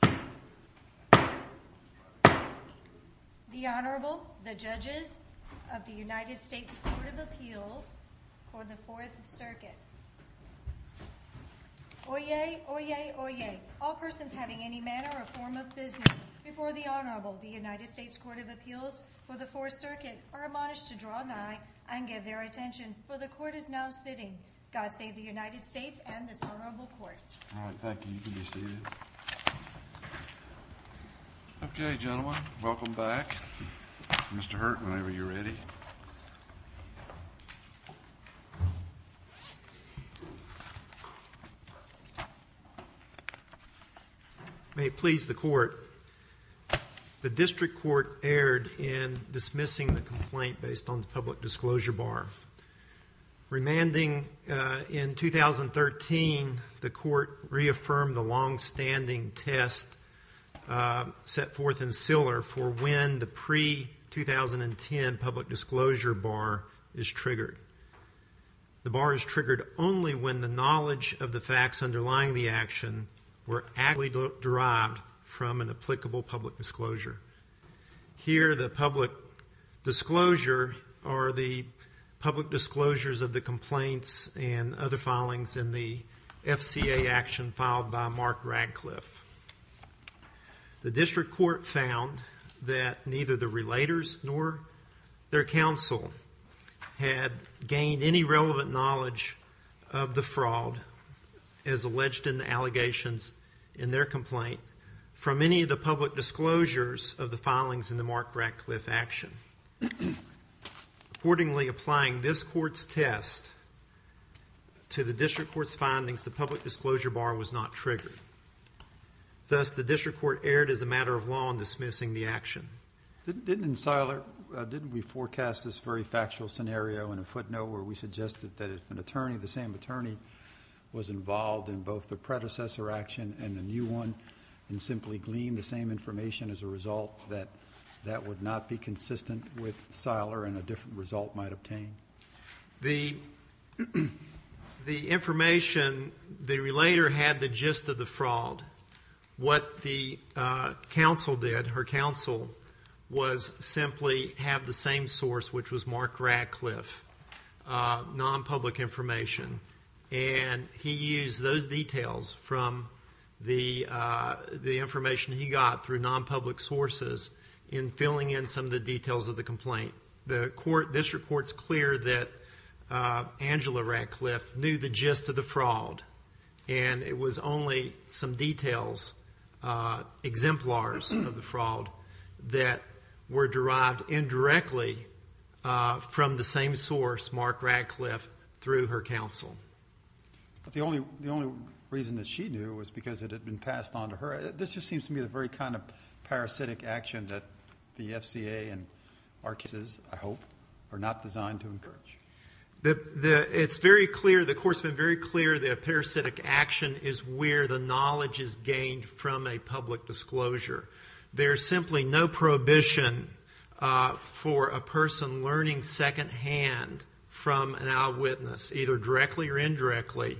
The Honorable, the Judges of the United States Court of Appeals for the Fourth Circuit. Oyez, oyez, oyez, all persons having any manner or form of business before the Honorable, the United States Court of Appeals for the Fourth Circuit are admonished to draw nigh and give their attention, for the Court is now sitting. God save the United States and this Honorable Court. All right, thank you. You can be seated. Okay, gentlemen, welcome back. Mr. Hurt, whenever you're ready. May it please the Court. The District Court erred in dismissing the complaint based on the public disclosure bar. Remanding in 2013, the Court reaffirmed the longstanding test set forth in Siller for when the pre-2010 public disclosure bar is triggered. The bar is triggered only when the knowledge of the facts underlying the action were actually derived from an applicable public disclosure. Here, the public disclosure are the public disclosures of the complaints and other filings in the FCA action filed by Mark Radcliffe. The District Court found that neither the relators nor their counsel had gained any relevant knowledge of the fraud as alleged in the allegations in their complaint from any of the public disclosures of the filings in the Mark Radcliffe action. Accordingly, applying this Court's test to the District Court's findings, the public disclosure bar was not triggered. Thus, the District Court erred as a matter of law in dismissing the action. Didn't Siller, didn't we forecast this very factual scenario in a footnote where we suggested that if an attorney, the same attorney, was involved in both the predecessor action and the new one and simply gleaned the same information as a result, that that would not be consistent with Siller and a different result might obtain? The information, the relator had the gist of the fraud. What the counsel did, her counsel, was simply have the same source, which was Mark Radcliffe, non-public information, and he used those details from the information he got through non-public sources in filling in some of the details of the complaint. The District Court's clear that Angela Radcliffe knew the gist of the fraud and it was only some details, exemplars of the fraud, that were derived indirectly from the same source, Mark Radcliffe, through her counsel. But the only reason that she knew was because it had been passed on to her. This just seems to me the very kind of parasitic action that the FCA and our cases, I hope, are not designed to encourage. It's very clear, the Court's been very clear that parasitic action is where the knowledge is gained from a public disclosure. There's simply no prohibition for a person learning second-hand from an eyewitness, either directly or indirectly,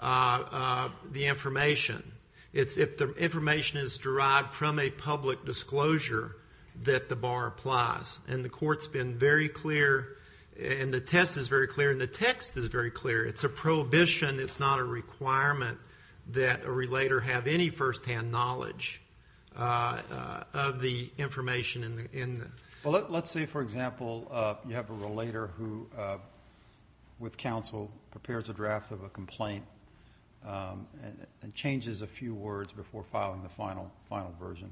the information. It's if the information is derived from a public disclosure that the bar applies. And the Court's been very clear, and the test is very clear, and the text is very clear. It's a prohibition. It's not a requirement that a relator have any first-hand knowledge of the information. Well, let's say, for example, you have a relator who, with counsel, prepares a draft of a complaint and changes a few words before filing the final version.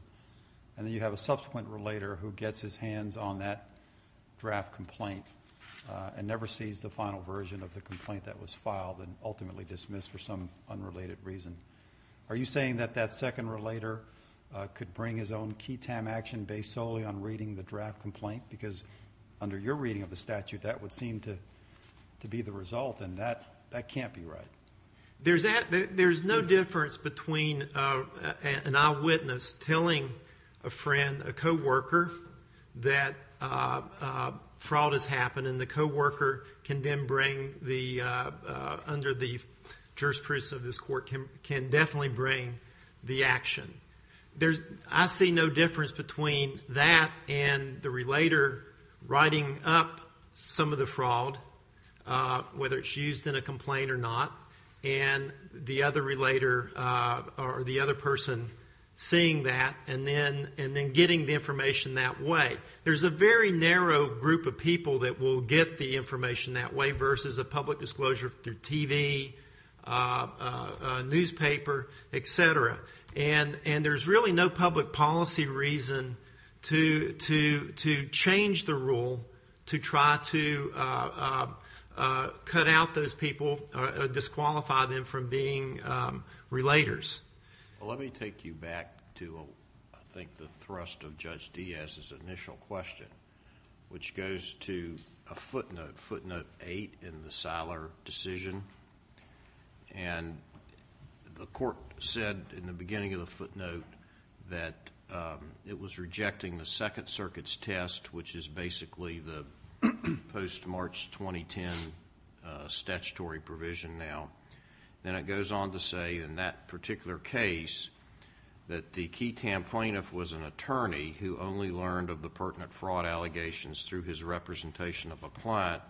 And then you have a subsequent relator who gets his hands on that draft complaint and never sees the final version of the complaint that was filed and ultimately dismissed for some unrelated reason. Are you saying that that second relator could bring his own key time action based solely on reading the draft complaint? Because under your reading of the statute, that would seem to be the result, and that can't be right. There's no difference between an eyewitness telling a friend, a co-worker, that fraud has happened and the co-worker can then bring, under the jurisprudence of this Court, can definitely bring the action. I see no difference between that and the relator writing up some of the fraud, whether it's used in a complaint or not, and the other person seeing that and then getting the information that way. There's a very narrow group of people that will get the information that way versus a public disclosure through TV, newspaper, et cetera. And there's really no public policy reason to change the rule to try to cut out those people or disqualify them from being relators. Well, let me take you back to, I think, the thrust of Judge Diaz's initial question, which goes to a footnote, footnote 8 in the Seiler decision. And the Court said in the beginning of the footnote that it was rejecting the Second Circuit's test, which is basically the post-March 2010 statutory provision now. Then it goes on to say, in that particular case, that the key plaintiff was an attorney who only learned of the pertinent fraud allegations through his representation of a client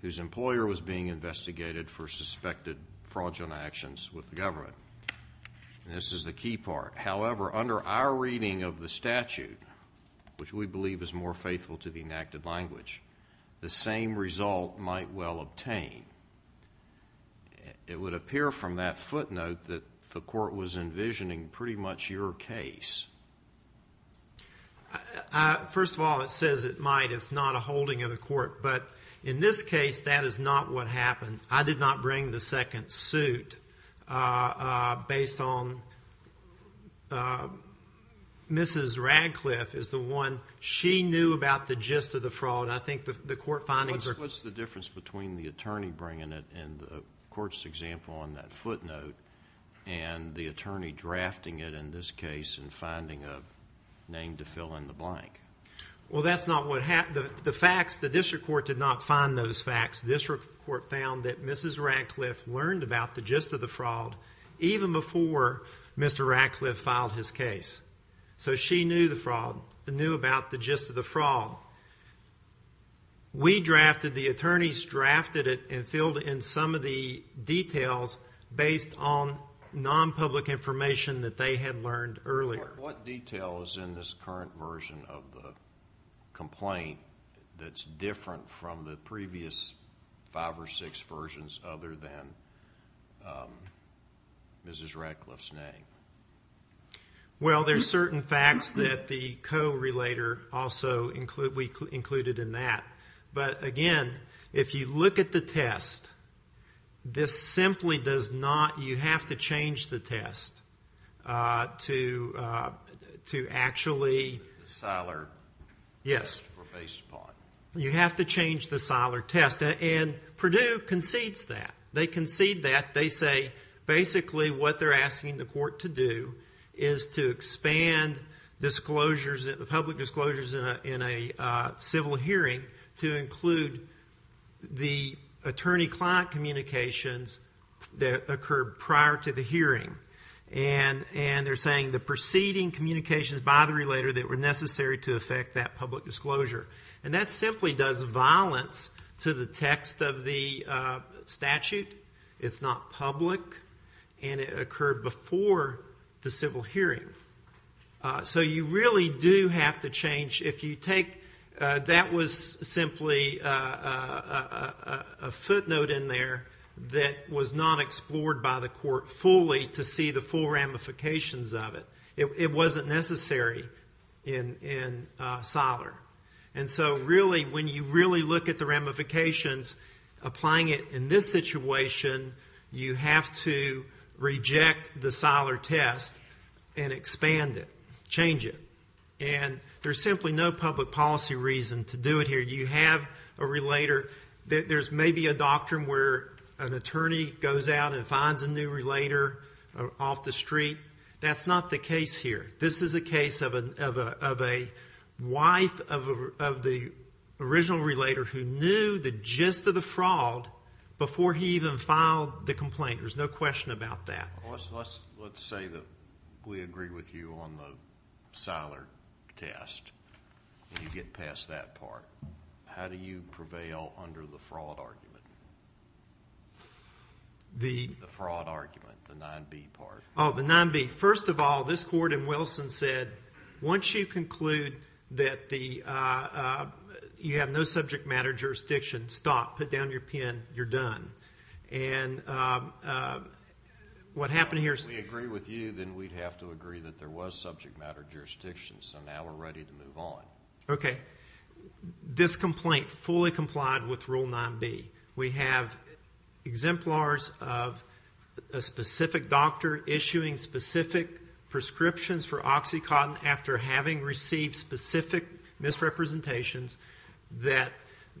whose employer was being investigated for suspected fraudulent actions with the government. And this is the key part. However, under our reading of the statute, which we believe is more faithful to the enacted language, the same result might well obtain. It would appear from that footnote that the Court was envisioning pretty much your case. First of all, it says it might. It's not a holding of the Court. But in this case, that is not what happened. I did not bring the second suit based on Mrs. Radcliffe is the one. She knew about the gist of the fraud. I think the Court findings are— What's the difference between the attorney bringing it in the Court's example on that footnote and the attorney drafting it in this case and finding a name to fill in the blank? Well, that's not what happened. The facts, the District Court did not find those facts. The District Court found that Mrs. Radcliffe learned about the gist of the fraud even before Mr. Radcliffe filed his case. So she knew about the gist of the fraud. We drafted it. The attorneys drafted it and filled in some of the details based on nonpublic information that they had learned earlier. What detail is in this current version of the complaint that's different from the previous five or six versions other than Mrs. Radcliffe's name? Well, there's certain facts that the co-relator also included in that. But again, if you look at the test, this simply does not— To actually— The Siler test were based upon. You have to change the Siler test, and Purdue concedes that. They concede that. They say basically what they're asking the Court to do is to expand public disclosures in a civil hearing to include the attorney-client communications that occurred prior to the hearing. And they're saying the preceding communications by the relator that were necessary to affect that public disclosure. And that simply does violence to the text of the statute. It's not public, and it occurred before the civil hearing. So you really do have to change. If you take—that was simply a footnote in there that was not explored by the Court fully to see the full ramifications of it. It wasn't necessary in Siler. And so really, when you really look at the ramifications, applying it in this situation, you have to reject the Siler test and expand it, change it. And there's simply no public policy reason to do it here. You have a relator. There's maybe a doctrine where an attorney goes out and finds a new relator off the street. That's not the case here. This is a case of a wife of the original relator who knew the gist of the fraud before he even filed the complaint. There's no question about that. Let's say that we agree with you on the Siler test. You get past that part. How do you prevail under the fraud argument? The fraud argument, the 9B part. Oh, the 9B. First of all, this Court in Wilson said, once you conclude that you have no subject matter jurisdiction, stop. Put down your pen. You're done. And what happened here is we agreed with you, then we'd have to agree that there was subject matter jurisdiction. So now we're ready to move on. Okay. This complaint fully complied with Rule 9B. We have exemplars of a specific doctor issuing specific prescriptions for OxyContin after having received specific misrepresentations that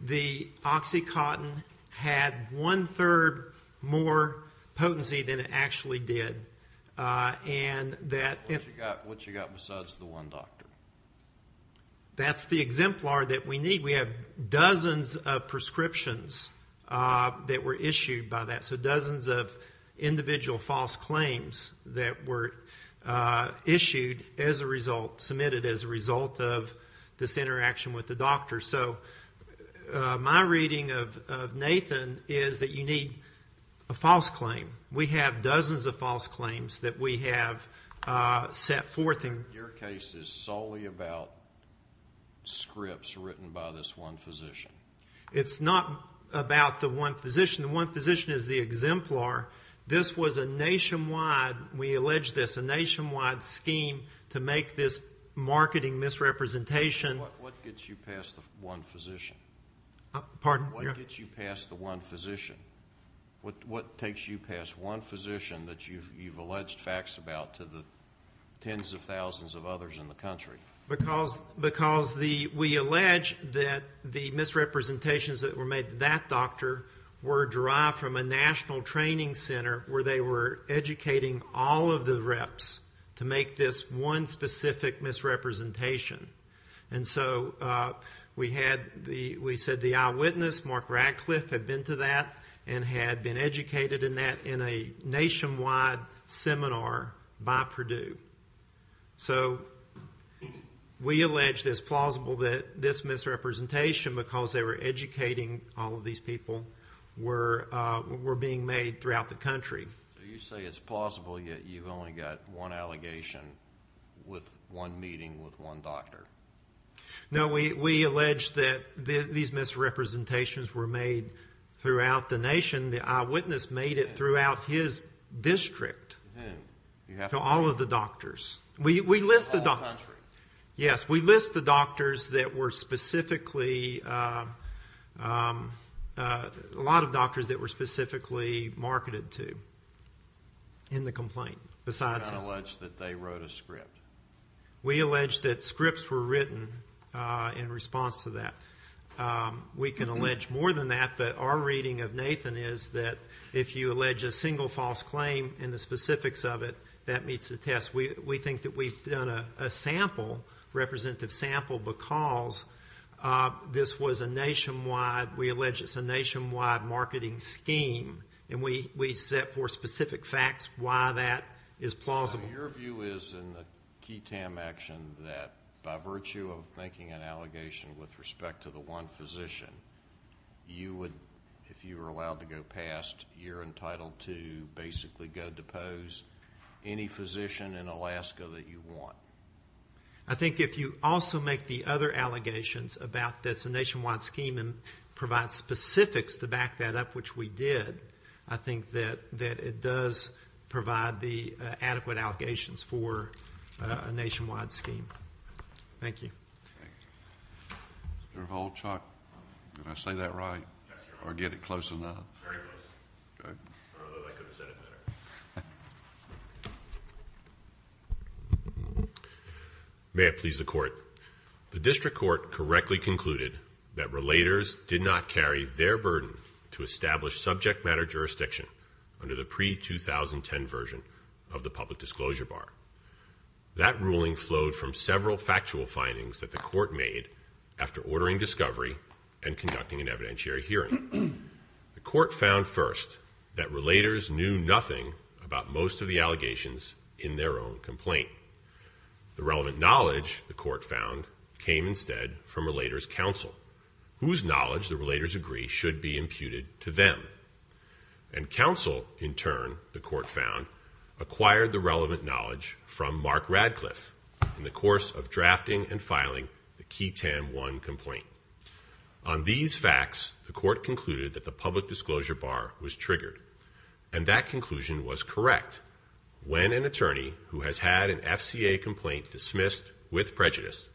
the OxyContin had one-third more potency than it actually did. What you got besides the one doctor? That's the exemplar that we need. We have dozens of prescriptions that were issued by that, so dozens of individual false claims that were issued as a result, submitted as a result of this interaction with the doctor. So my reading of Nathan is that you need a false claim. We have dozens of false claims that we have set forth. Your case is solely about scripts written by this one physician. It's not about the one physician. The one physician is the exemplar. This was a nationwide, we allege this, a nationwide scheme to make this marketing misrepresentation. What gets you past the one physician? Pardon? What gets you past the one physician? What takes you past one physician that you've alleged facts about to the tens of thousands of others in the country? Because we allege that the misrepresentations that were made to that doctor were derived from a national training center where they were educating all of the reps to make this one specific misrepresentation. And so we said the eyewitness, Mark Radcliffe, had been to that and had been educated in that in a nationwide seminar by Purdue. So we allege this plausible that this misrepresentation, because they were educating all of these people, were being made throughout the country. So you say it's plausible, yet you've only got one allegation with one meeting with one doctor. No, we allege that these misrepresentations were made throughout the nation. The eyewitness made it throughout his district to all of the doctors. We list the doctors. A lot of doctors that were specifically marketed to in the complaint. You don't allege that they wrote a script. We allege that scripts were written in response to that. We can allege more than that, but our reading of Nathan is that if you allege a single false claim and the specifics of it, that meets the test. We think that we've done a sample, representative sample, because this was a nationwide, we allege it's a nationwide marketing scheme. And we set forth specific facts why that is plausible. So your view is in the KETAM action that by virtue of making an allegation with respect to the one physician, you would, if you were allowed to go past, you're entitled to basically go depose any physician in Alaska that you want. I think if you also make the other allegations about that it's a nationwide scheme and provide specifics to back that up, which we did, I think that it does provide the adequate allegations for a nationwide scheme. Thank you. Mr. Holchuk, did I say that right? Yes, sir. Or get it close enough? Very close. Okay. I don't know if I could have said it better. May it please the Court. The district court correctly concluded that relators did not carry their burden to establish subject matter jurisdiction under the pre-2010 version of the public disclosure bar. That ruling flowed from several factual findings that the court made after ordering discovery and conducting an evidentiary hearing. The court found first that relators knew nothing about most of the allegations in their own complaint. The relevant knowledge, the court found, came instead from relators' counsel, whose knowledge the relators agree should be imputed to them. And counsel, in turn, the court found, acquired the relevant knowledge from Mark Radcliffe in the course of drafting and filing the Key Tam 1 complaint. On these facts, the court concluded that the public disclosure bar was triggered, and that conclusion was correct when an attorney who has had an FCA complaint dismissed with prejudice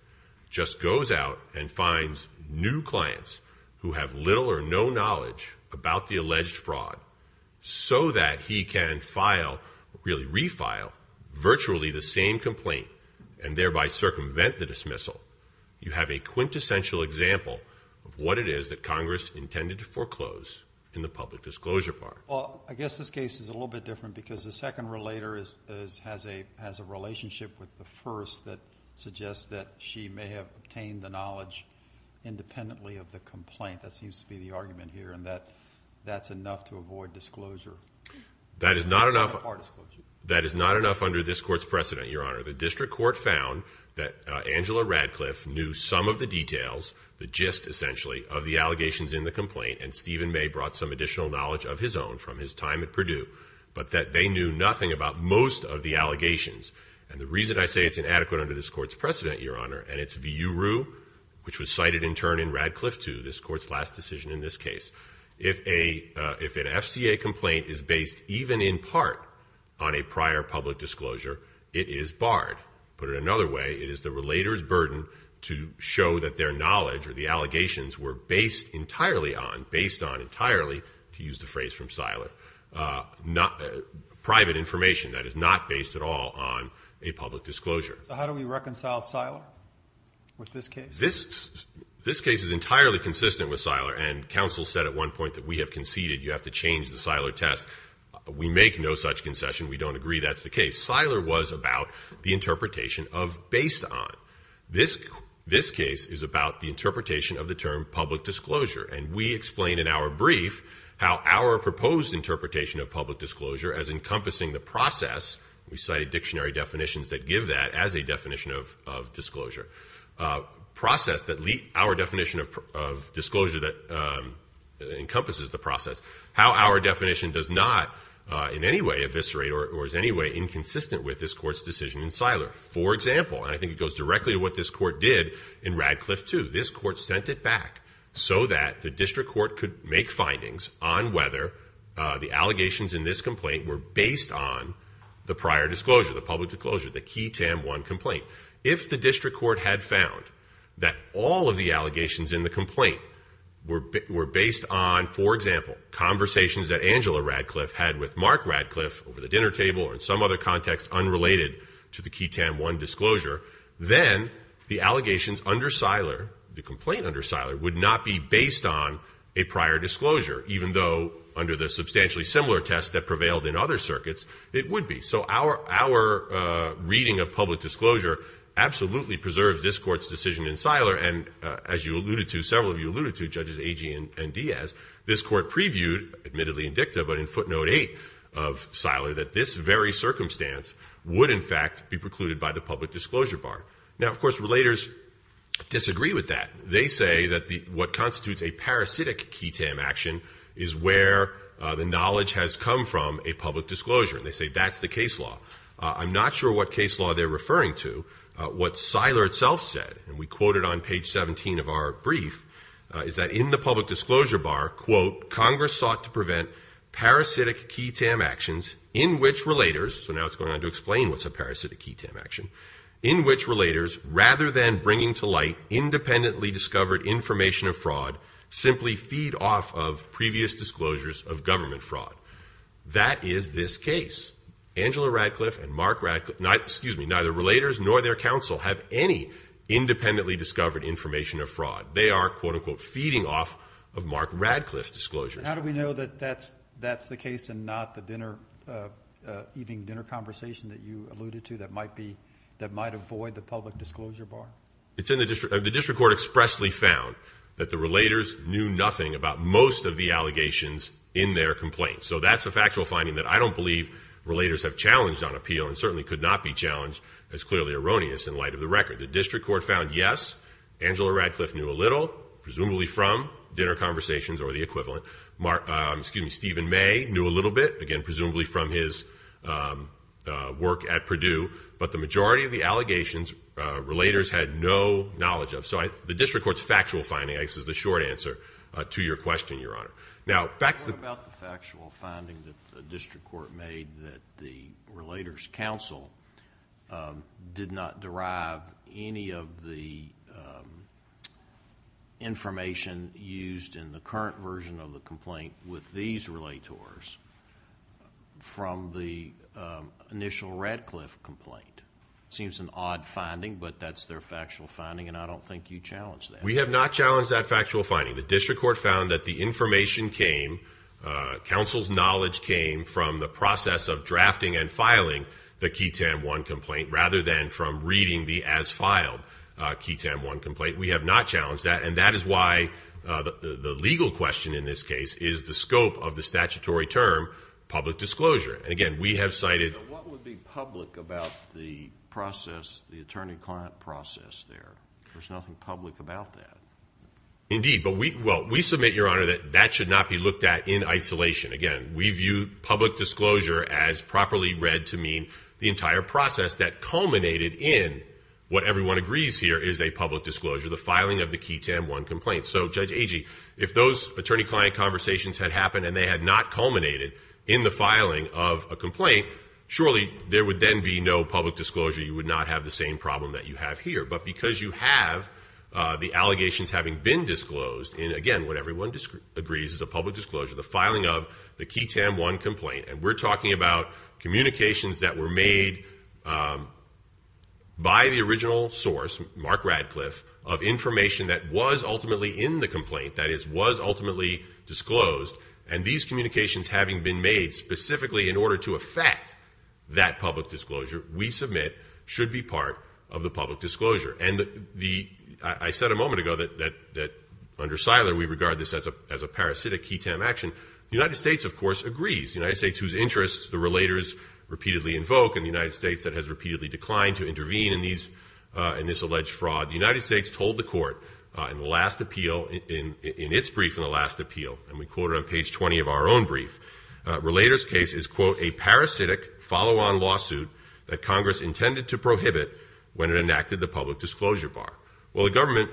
just goes out and finds new clients who have little or no knowledge about the alleged fraud so that he can file, really refile, virtually the same complaint and thereby circumvent the dismissal. You have a quintessential example of what it is that Congress intended to foreclose in the public disclosure bar. Well, I guess this case is a little bit different because the second relator has a relationship with the first that suggests that she may have obtained the knowledge independently of the complaint. That seems to be the argument here and that that's enough to avoid disclosure. That is not enough under this Court's precedent, Your Honor. The district court found that Angela Radcliffe knew some of the details, the gist essentially, of the allegations in the complaint, and Stephen May brought some additional knowledge of his own from his time at Purdue, but that they knew nothing about most of the allegations. And the reason I say it's inadequate under this Court's precedent, Your Honor, and it's V.U. Rue, which was cited in turn in Radcliffe II, this Court's last decision in this case. If an FCA complaint is based even in part on a prior public disclosure, it is barred. Put it another way, it is the relator's burden to show that their knowledge or the allegations were based entirely on, based on entirely, to use the phrase from Seiler, private information that is not based at all on a public disclosure. So how do we reconcile Seiler with this case? This case is entirely consistent with Seiler, and counsel said at one point that we have conceded you have to change the Seiler test. We make no such concession. We don't agree that's the case. Seiler was about the interpretation of based on. This case is about the interpretation of the term public disclosure, and we explain in our brief how our proposed interpretation of public disclosure as encompassing the process, we cited dictionary definitions that give that as a definition of disclosure, process that lead our definition of disclosure that encompasses the process, how our definition does not in any way eviscerate or is in any way inconsistent with this Court's decision in Seiler. For example, and I think it goes directly to what this Court did in Radcliffe II, this Court sent it back so that the district court could make findings on whether the allegations in this complaint were based on the prior disclosure, the public disclosure, the QI-TAM I complaint. If the district court had found that all of the allegations in the complaint were based on, for example, conversations that Angela Radcliffe had with Mark Radcliffe over the dinner table or in some other context unrelated to the QI-TAM I disclosure, then the allegations under Seiler, the complaint under Seiler, would not be based on a prior disclosure, even though under the substantially similar test that prevailed in other circuits, it would be. So our reading of public disclosure absolutely preserves this Court's decision in Seiler, and as you alluded to, several of you alluded to, Judges Agee and Diaz, this Court previewed, admittedly in dicta, but in footnote 8 of Seiler, that this very circumstance would, in fact, be precluded by the public disclosure bar. Now, of course, relators disagree with that. They say that what constitutes a parasitic QI-TAM action is where the knowledge has come from a public disclosure, and they say that's the case law. I'm not sure what case law they're referring to. What Seiler itself said, and we quote it on page 17 of our brief, is that in the public disclosure bar, quote, Congress sought to prevent parasitic QI-TAM actions in which relators, so now it's going on to explain what's a parasitic QI-TAM action, in which relators, rather than bringing to light independently discovered information of fraud, simply feed off of previous disclosures of government fraud. That is this case. Angela Radcliffe and Mark Radcliffe, excuse me, neither relators nor their counsel have any independently discovered information of fraud. They are, quote, unquote, feeding off of Mark Radcliffe's disclosures. How do we know that that's the case and not the dinner, evening dinner conversation that you alluded to that might avoid the public disclosure bar? The district court expressly found that the relators knew nothing about most of the allegations in their complaints. So that's a factual finding that I don't believe relators have challenged on appeal and certainly could not be challenged as clearly erroneous in light of the record. The district court found yes, Angela Radcliffe knew a little, presumably from dinner conversations or the equivalent. Stephen May knew a little bit, again, presumably from his work at Purdue. But the majority of the allegations, relators had no knowledge of. So the district court's factual finding, I guess, is the short answer to your question, Your Honor. What about the factual finding that the district court made that the relators' counsel did not derive any of the information used in the current version of the complaint with these relators from the initial Radcliffe complaint? It seems an odd finding, but that's their factual finding, and I don't think you challenged that. We have not challenged that factual finding. The district court found that the information came, counsel's knowledge came from the process of drafting and filing the KTAM 1 complaint rather than from reading the as-filed KTAM 1 complaint. We have not challenged that, and that is why the legal question in this case is the scope of the statutory term, public disclosure. And, again, we have cited But what would be public about the process, the attorney-client process there? There's nothing public about that. Indeed, but we submit, Your Honor, that that should not be looked at in isolation. Again, we view public disclosure as properly read to mean the entire process that culminated in what everyone agrees here is a public disclosure, the filing of the KTAM 1 complaint. So, Judge Agee, if those attorney-client conversations had happened and they had not culminated in the filing of a complaint, surely there would then be no public disclosure. You would not have the same problem that you have here. But because you have the allegations having been disclosed in, again, what everyone agrees is a public disclosure, the filing of the KTAM 1 complaint, and we're talking about communications that were made by the original source, Mark Radcliffe, of information that was ultimately in the complaint, that is, was ultimately disclosed, and these communications having been made specifically in order to affect that public disclosure, we submit should be part of the public disclosure. And I said a moment ago that under Siler we regard this as a parasitic KTAM action. The United States, of course, agrees. The United States, whose interests the relators repeatedly invoke, and the United States that has repeatedly declined to intervene in this alleged fraud, the United States told the court in the last appeal, in its brief in the last appeal, and we quote it on page 20 of our own brief, relator's case is, quote, a parasitic follow-on lawsuit that Congress intended to prohibit when it enacted the public disclosure bar. Well, the government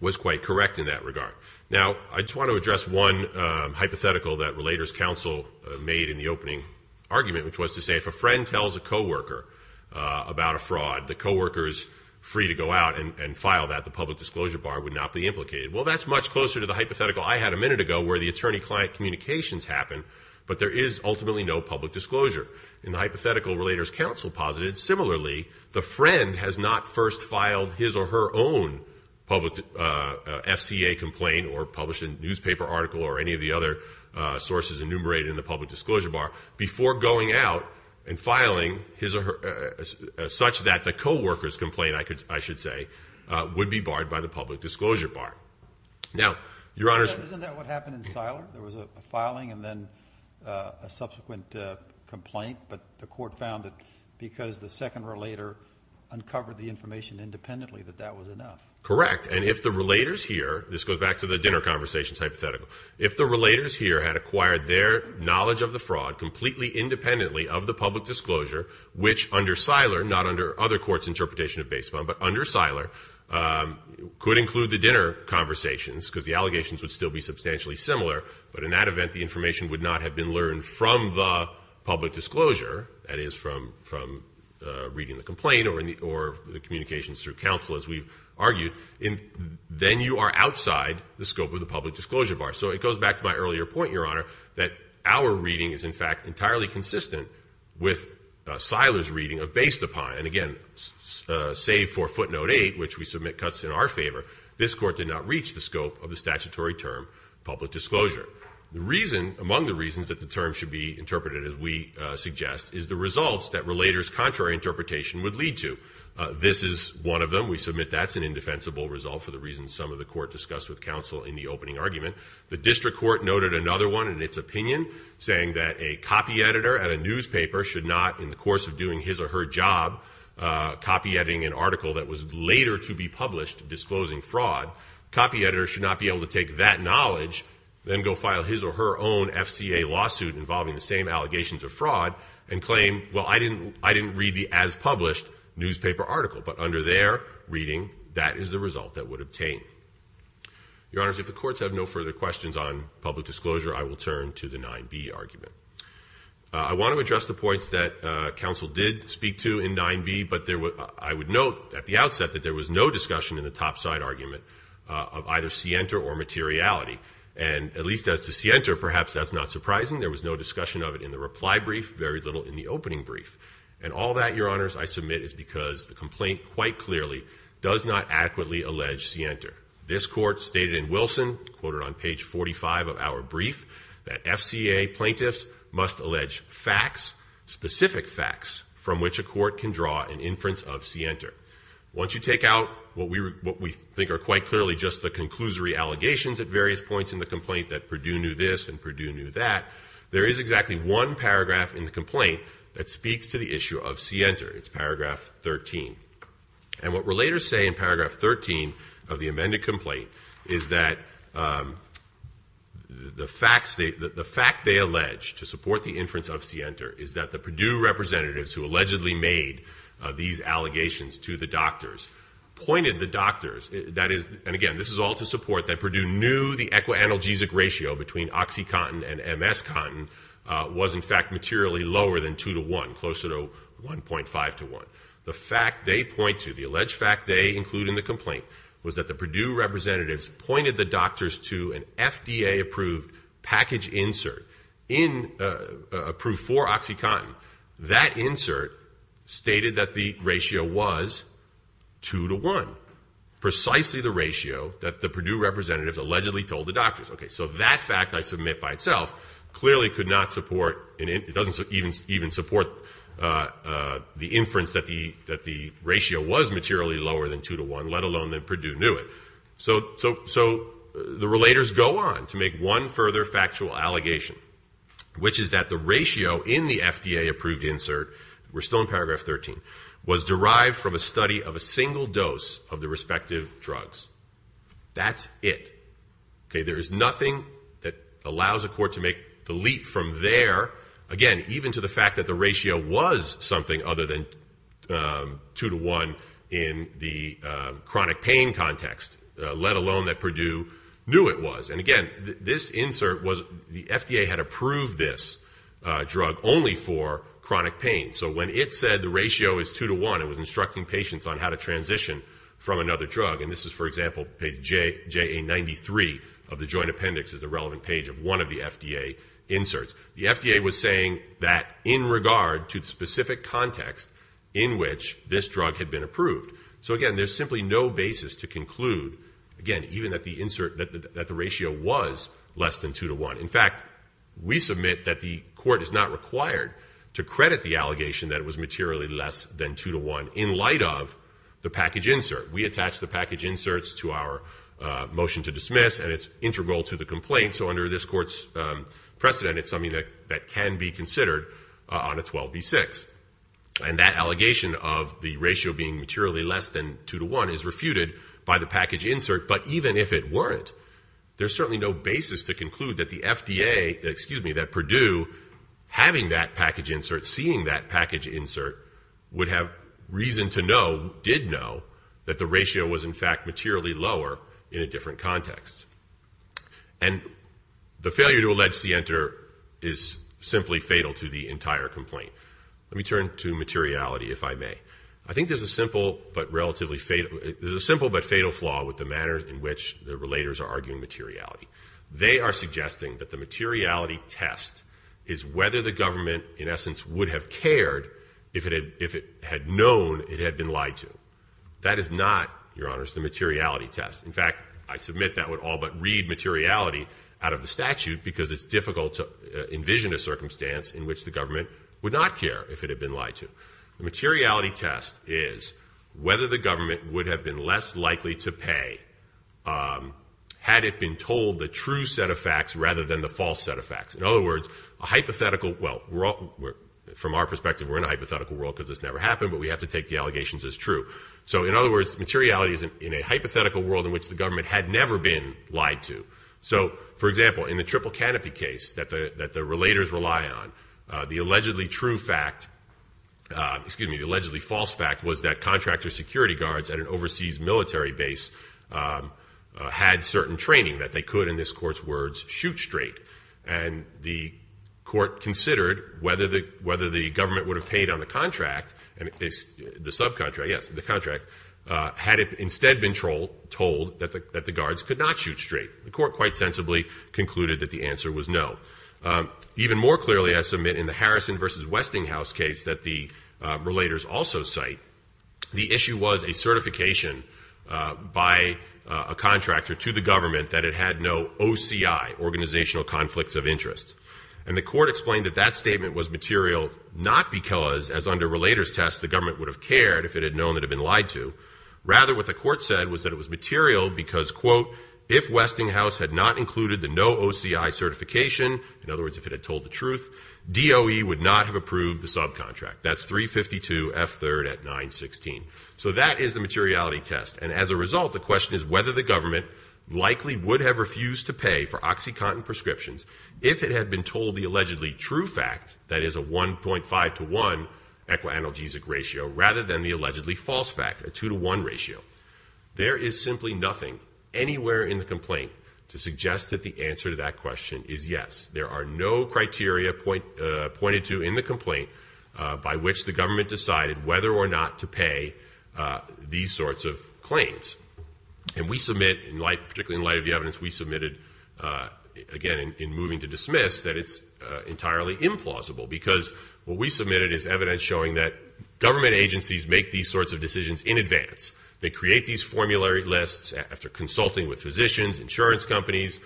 was quite correct in that regard. Now, I just want to address one hypothetical that relator's counsel made in the opening argument, which was to say if a friend tells a co-worker about a fraud, the co-workers free to go out and file that, the public disclosure bar would not be implicated. Well, that's much closer to the hypothetical I had a minute ago where the attorney-client communications happen, but there is ultimately no public disclosure. In the hypothetical relator's counsel posited, similarly, the friend has not first filed his or her own public FCA complaint or published a newspaper article or any of the other sources enumerated in the public disclosure bar before going out and filing such that the co-workers' complaint, I should say, would be barred by the public disclosure bar. Now, Your Honors. Isn't that what happened in Siler? There was a filing and then a subsequent complaint, but the court found that because the second relator uncovered the information independently that that was enough. Correct. And if the relators here, this goes back to the dinner conversations hypothetical, if the relators here had acquired their knowledge of the fraud completely independently of the public disclosure, which under Siler, not under other courts' interpretation of base bond, but under Siler, could include the dinner conversations because the allegations would still be substantially similar, but in that event the information would not have been learned from the public disclosure, that is, from reading the complaint or the communications through counsel, as we've argued, then you are outside the scope of the public disclosure bar. So it goes back to my earlier point, Your Honor, that our reading is in fact entirely consistent with Siler's reading of based upon, and again, save for footnote 8, which we submit cuts in our favor, this court did not reach the scope of the statutory term public disclosure. The reason, among the reasons that the term should be interpreted as we suggest, is the results that relators' contrary interpretation would lead to. This is one of them. We submit that's an indefensible result for the reasons some of the court discussed with counsel in the opening argument. The district court noted another one in its opinion, saying that a copy editor at a newspaper should not, in the course of doing his or her job, copy editing an article that was later to be published disclosing fraud, copy editors should not be able to take that knowledge, then go file his or her own FCA lawsuit involving the same allegations of fraud, and claim, well, I didn't read the as-published newspaper article, but under their reading that is the result that would obtain. Your Honors, if the courts have no further questions on public disclosure, I will turn to the 9B argument. I want to address the points that counsel did speak to in 9B, but I would note at the outset that there was no discussion in the topside argument of either Sienta or materiality, and at least as to Sienta, perhaps that's not surprising. There was no discussion of it in the reply brief, very little in the opening brief, and all that, Your Honors, I submit is because the complaint quite clearly does not adequately allege Sienta. This court stated in Wilson, quoted on page 45 of our brief, that FCA plaintiffs must allege facts, specific facts, from which a court can draw an inference of Sienta. Once you take out what we think are quite clearly just the conclusory allegations at various points in the complaint, that Perdue knew this and Perdue knew that, there is exactly one paragraph in the complaint that speaks to the issue of Sienta. It's paragraph 13. And what relators say in paragraph 13 of the amended complaint is that the facts, the fact they allege to support the inference of Sienta is that the Perdue representatives, who allegedly made these allegations to the doctors, pointed the doctors, that is, and again, this is all to support that Perdue knew the equi-analgesic ratio between oxycontin and MS-contin was, in fact, materially lower than 2 to 1, closer to 1.5 to 1. The fact they point to, the alleged fact they include in the complaint, was that the Perdue representatives pointed the doctors to an FDA-approved package insert in, approved for oxycontin. That insert stated that the ratio was 2 to 1, precisely the ratio that the Perdue representatives allegedly told the doctors. Okay, so that fact I submit by itself clearly could not support, and it doesn't even support the inference that the ratio was materially lower than 2 to 1, let alone that Perdue knew it. So the relators go on to make one further factual allegation, which is that the ratio in the FDA-approved insert, we're still in paragraph 13, was derived from a study of a single dose of the respective drugs. That's it. Okay, there is nothing that allows a court to make the leap from there, again, even to the fact that the ratio was something other than 2 to 1 in the chronic pain context, let alone that Perdue knew it was. And, again, this insert was the FDA had approved this drug only for chronic pain. So when it said the ratio is 2 to 1, it was instructing patients on how to transition from another drug. And this is, for example, page JA93 of the joint appendix is the relevant page of one of the FDA inserts. The FDA was saying that in regard to the specific context in which this drug had been approved. So, again, there's simply no basis to conclude, again, even that the insert, that the ratio was less than 2 to 1. In fact, we submit that the court is not required to credit the allegation that it was materially less than 2 to 1 in light of the package insert. We attach the package inserts to our motion to dismiss, and it's integral to the complaint. So under this court's precedent, it's something that can be considered on a 12B6. And that allegation of the ratio being materially less than 2 to 1 is refuted by the package insert. But even if it weren't, there's certainly no basis to conclude that the FDA, excuse me, that Purdue having that package insert, seeing that package insert, would have reason to know, did know, that the ratio was, in fact, materially lower in a different context. And the failure to allege CENTER is simply fatal to the entire complaint. Let me turn to materiality, if I may. I think there's a simple but relatively fatal flaw with the manner in which the relators are arguing materiality. They are suggesting that the materiality test is whether the government, in essence, would have cared if it had known it had been lied to. That is not, Your Honors, the materiality test. In fact, I submit that would all but read materiality out of the statute, because it's difficult to envision a circumstance in which the government would not care if it had been lied to. The materiality test is whether the government would have been less likely to pay had it been told a true set of facts rather than the false set of facts. In other words, a hypothetical, well, from our perspective, we're in a hypothetical world because this never happened, but we have to take the allegations as true. So, in other words, materiality is in a hypothetical world in which the government had never been lied to. So, for example, in the triple canopy case that the relators rely on, the allegedly true fact, excuse me, the allegedly false fact was that contractor security guards at an overseas military base had certain training that they could, in this Court's words, shoot straight. And the Court considered whether the government would have paid on the contract, the subcontract, yes, the contract, had it instead been told that the guards could not shoot straight. The Court quite sensibly concluded that the answer was no. Even more clearly, I submit, in the Harrison v. Westinghouse case that the relators also cite, the issue was a certification by a contractor to the government that it had no OCI, organizational conflicts of interest. And the Court explained that that statement was material not because, as under relator's test, the government would have cared if it had known it had been lied to. Rather, what the Court said was that it was material because, quote, if Westinghouse had not included the no OCI certification, in other words, if it had told the truth, DOE would not have approved the subcontract. That's 352 F3rd at 916. So that is the materiality test. And as a result, the question is whether the government likely would have refused to pay for OxyContin prescriptions if it had been told the allegedly true fact, that is a 1.5 to 1 equi-analgesic ratio, rather than the allegedly false fact, a 2 to 1 ratio. There is simply nothing anywhere in the complaint to suggest that the answer to that question is yes. There are no criteria pointed to in the complaint by which the government decided whether or not to pay these sorts of claims. And we submit, particularly in light of the evidence we submitted, again, in moving to dismiss that it's entirely implausible because what we submitted is evidence showing that government agencies make these sorts of decisions in advance. They create these formulary lists after consulting with physicians, insurance companies,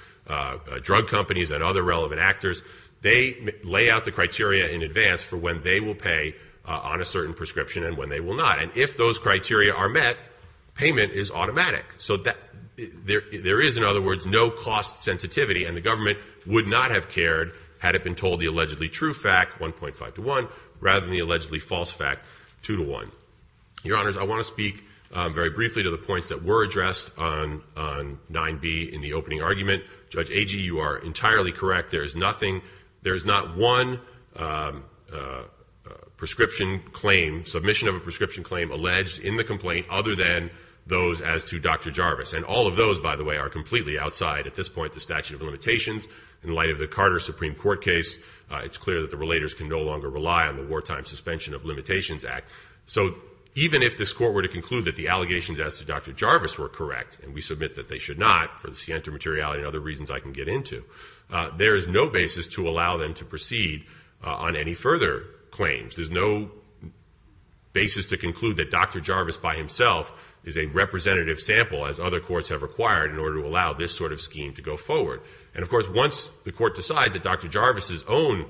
drug companies, and other relevant actors. They lay out the criteria in advance for when they will pay on a certain prescription and when they will not. And if those criteria are met, payment is automatic. So there is, in other words, no cost sensitivity. And the government would not have cared had it been told the allegedly true fact, 1.5 to 1, rather than the allegedly false fact, 2 to 1. Your Honors, I want to speak very briefly to the points that were addressed on 9B in the opening argument. Judge Agee, you are entirely correct. There is nothing, there is not one prescription claim, submission of a prescription claim alleged in the complaint other than those as to Dr. Jarvis. And all of those, by the way, are completely outside, at this point, the statute of limitations. In light of the Carter Supreme Court case, it's clear that the relators can no longer rely on the Wartime Suspension of Limitations Act. So even if this Court were to conclude that the allegations as to Dr. Jarvis were correct, and we submit that they should not for the scienter materiality and other reasons I can get into, there is no basis to allow them to proceed on any further claims. There's no basis to conclude that Dr. Jarvis by himself is a representative sample, as other courts have required in order to allow this sort of scheme to go forward. And, of course, once the Court decides that Dr. Jarvis' own,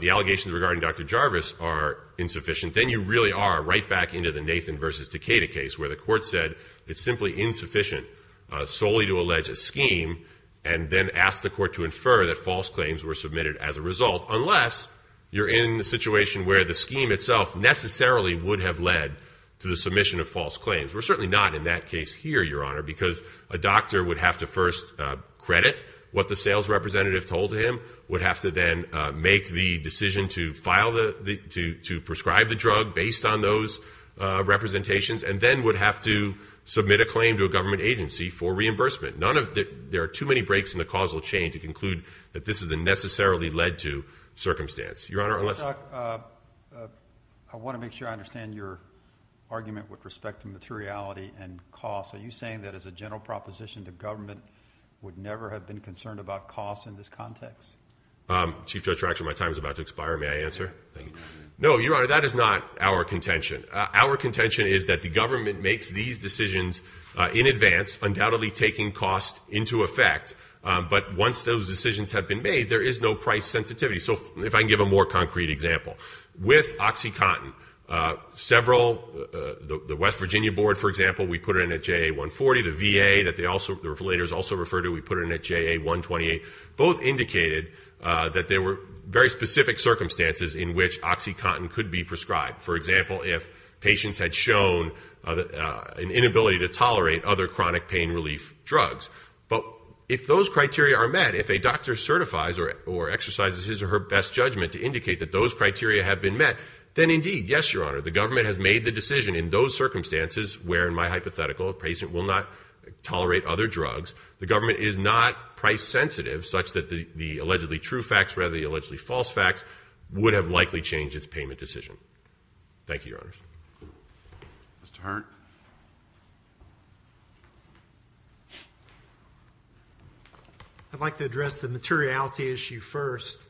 the allegations regarding Dr. Jarvis are insufficient, then you really are right back into the Nathan v. Decatur case, where the Court said it's simply insufficient solely to allege a scheme and then ask the Court to infer that false claims were submitted as a result, unless you're in the situation where the scheme itself necessarily would have led to the submission of false claims. We're certainly not in that case here, Your Honor, because a doctor would have to first credit what the sales representative told him, would have to then make the decision to file the, to prescribe the drug based on those representations, and then would have to submit a claim to a government agency for reimbursement. None of the, there are too many breaks in the causal chain to conclude that this is a necessarily led to circumstance. Your Honor, unless. I want to make sure I understand your argument with respect to materiality and cost. Are you saying that as a general proposition, the government would never have been concerned about cost in this context? Chief Judge Ratcher, my time is about to expire. May I answer? No, Your Honor, that is not our contention. Our contention is that the government makes these decisions in advance, undoubtedly taking cost into effect. But once those decisions have been made, there is no price sensitivity. So if I can give a more concrete example. With OxyContin, several, the West Virginia Board, for example, we put it in at JA-140. The VA that they also, the regulators also refer to, we put it in at JA-128. Both indicated that there were very specific circumstances in which OxyContin could be prescribed. For example, if patients had shown an inability to tolerate other chronic pain relief drugs. But if those criteria are met, if a doctor certifies or exercises his or her best judgment to indicate that those criteria have been met, then indeed, yes, Your Honor, the government has made the decision in those circumstances where, in my hypothetical, a patient will not tolerate other drugs. The government is not price sensitive such that the allegedly true facts rather than the allegedly false facts would have likely changed its payment decision. Thank you, Your Honors. Mr. Hearn. I'd like to address the materiality issue first.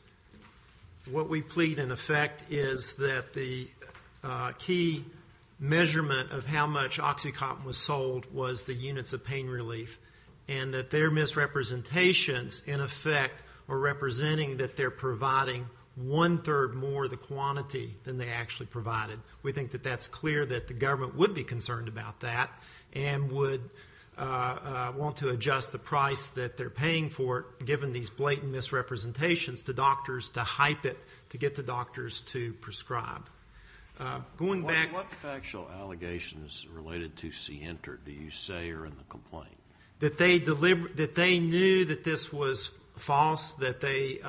What we plead in effect is that the key measurement of how much OxyContin was sold was the units of pain relief. And that their misrepresentations, in effect, are representing that they're providing one-third more of the quantity than they actually provided. We think that that's clear that the government would be concerned. about that and would want to adjust the price that they're paying for it, given these blatant misrepresentations, to doctors to hype it to get the doctors to prescribe. Going back... What factual allegations related to C-ENTR do you say are in the complaint? That they knew that this was false, that they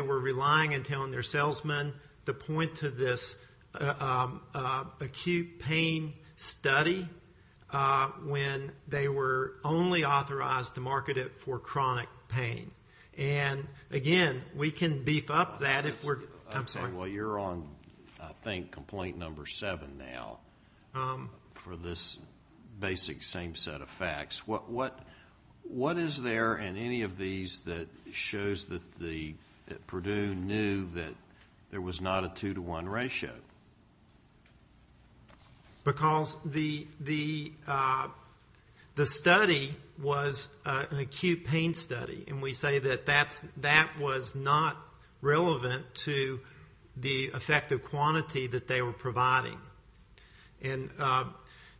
were relying on telling their salesmen to point to this acute pain study when they were only authorized to market it for chronic pain. And, again, we can beef up that if we're... I'm sorry. Well, you're on, I think, complaint number seven now for this basic same set of facts. What is there in any of these that shows that Purdue knew that there was not a two-to-one ratio? Because the study was an acute pain study, and we say that that was not relevant to the effective quantity that they were providing. And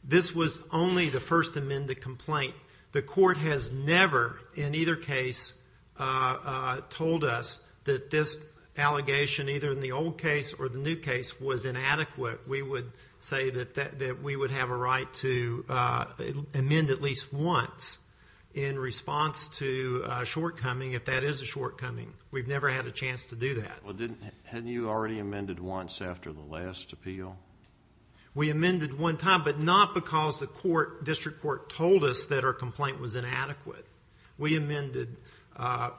this was only the first amended complaint. The court has never, in either case, told us that this allegation, either in the old case or the new case, was inadequate. We would say that we would have a right to amend at least once in response to a shortcoming, if that is a shortcoming. We've never had a chance to do that. Well, hadn't you already amended once after the last appeal? We amended one time, but not because the district court told us that our complaint was inadequate. We amended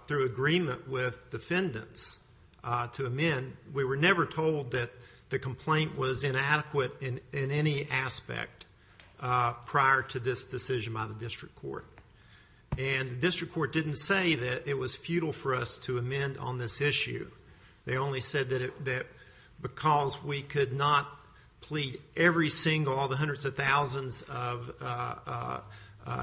through agreement with defendants to amend. We were never told that the complaint was inadequate in any aspect prior to this decision by the district court. And the district court didn't say that it was futile for us to amend on this issue. They only said that because we could not plead every single, all the hundreds of thousands of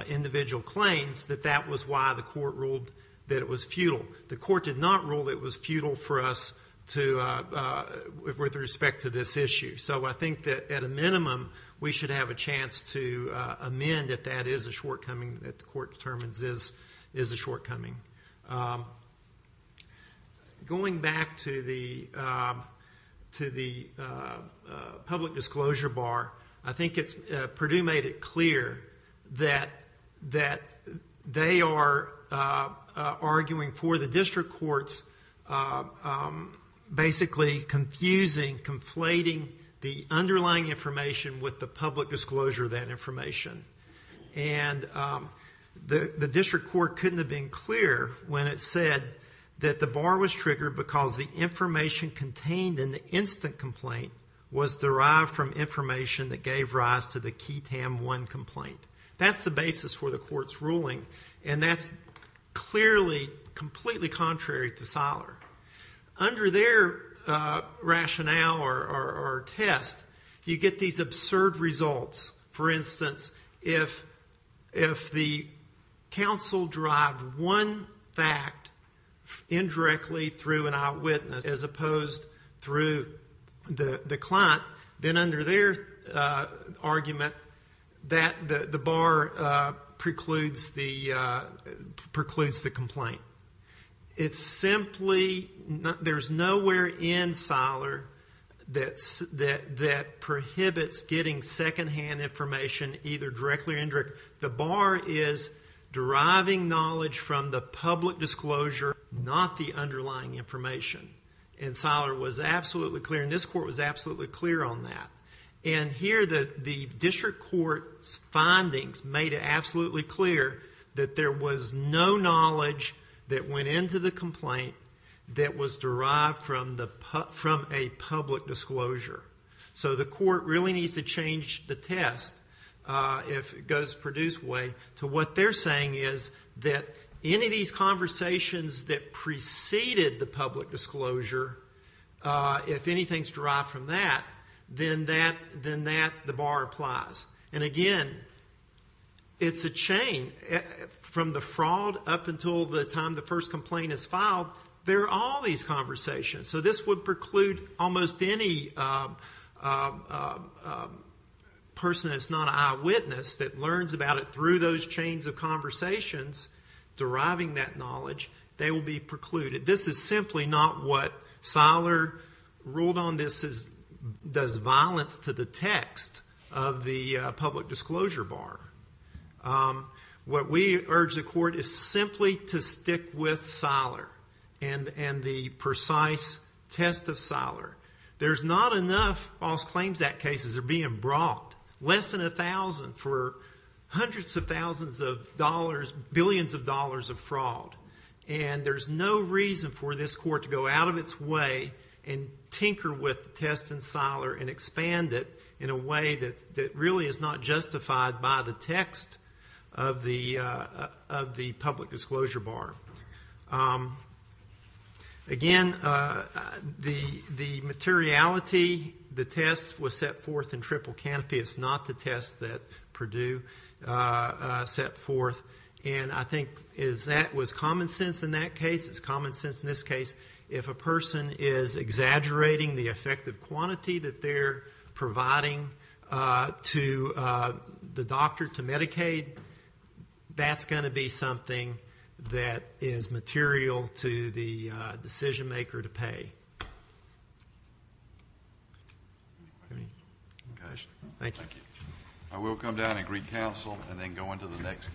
individual claims, that that was why the court ruled that it was futile. The court did not rule that it was futile for us with respect to this issue. So I think that, at a minimum, we should have a chance to amend if that is a shortcoming that the court determines is a shortcoming. Going back to the public disclosure bar, I think Purdue made it clear that they are arguing for the district court's basically confusing, conflating the underlying information with the public disclosure of that information. And the district court couldn't have been clearer when it said that the bar was triggered because the information contained in the instant complaint was derived from information that gave rise to the QTAM 1 complaint. That's the basis for the court's ruling, and that's clearly completely contrary to Seiler. Under their rationale or test, you get these absurd results. For instance, if the counsel derived one fact indirectly through an eyewitness as opposed through the client, then under their argument, the bar precludes the complaint. There's nowhere in Seiler that prohibits getting secondhand information either directly or indirectly. The bar is deriving knowledge from the public disclosure, not the underlying information. And Seiler was absolutely clear, and this court was absolutely clear on that. And here the district court's findings made it absolutely clear that there was no knowledge that went into the complaint that was derived from a public disclosure. So the court really needs to change the test, if it goes Purdue's way, to what they're saying is that any of these conversations that preceded the public disclosure, if anything's derived from that, then that, the bar applies. And again, it's a chain. From the fraud up until the time the first complaint is filed, there are all these conversations. So this would preclude almost any person that's not an eyewitness that learns about it through those chains of conversations, deriving that knowledge, they will be precluded. This is simply not what Seiler ruled on. This does violence to the text of the public disclosure bar. What we urge the court is simply to stick with Seiler and the precise test of Seiler. There's not enough False Claims Act cases that are being brought, less than 1,000, for hundreds of thousands of dollars, billions of dollars of fraud. And there's no reason for this court to go out of its way and tinker with the test in Seiler and expand it in a way that really is not justified by the text of the public disclosure bar. Again, the materiality, the test was set forth in Triple Canopy. It's not the test that Purdue set forth. And I think that was common sense in that case. It's common sense in this case. If a person is exaggerating the effective quantity that they're providing to the doctor, to Medicaid, that's going to be something that is material to the decision maker to pay. Thank you. Thank you. I will come down and greet counsel and then go on to the next case.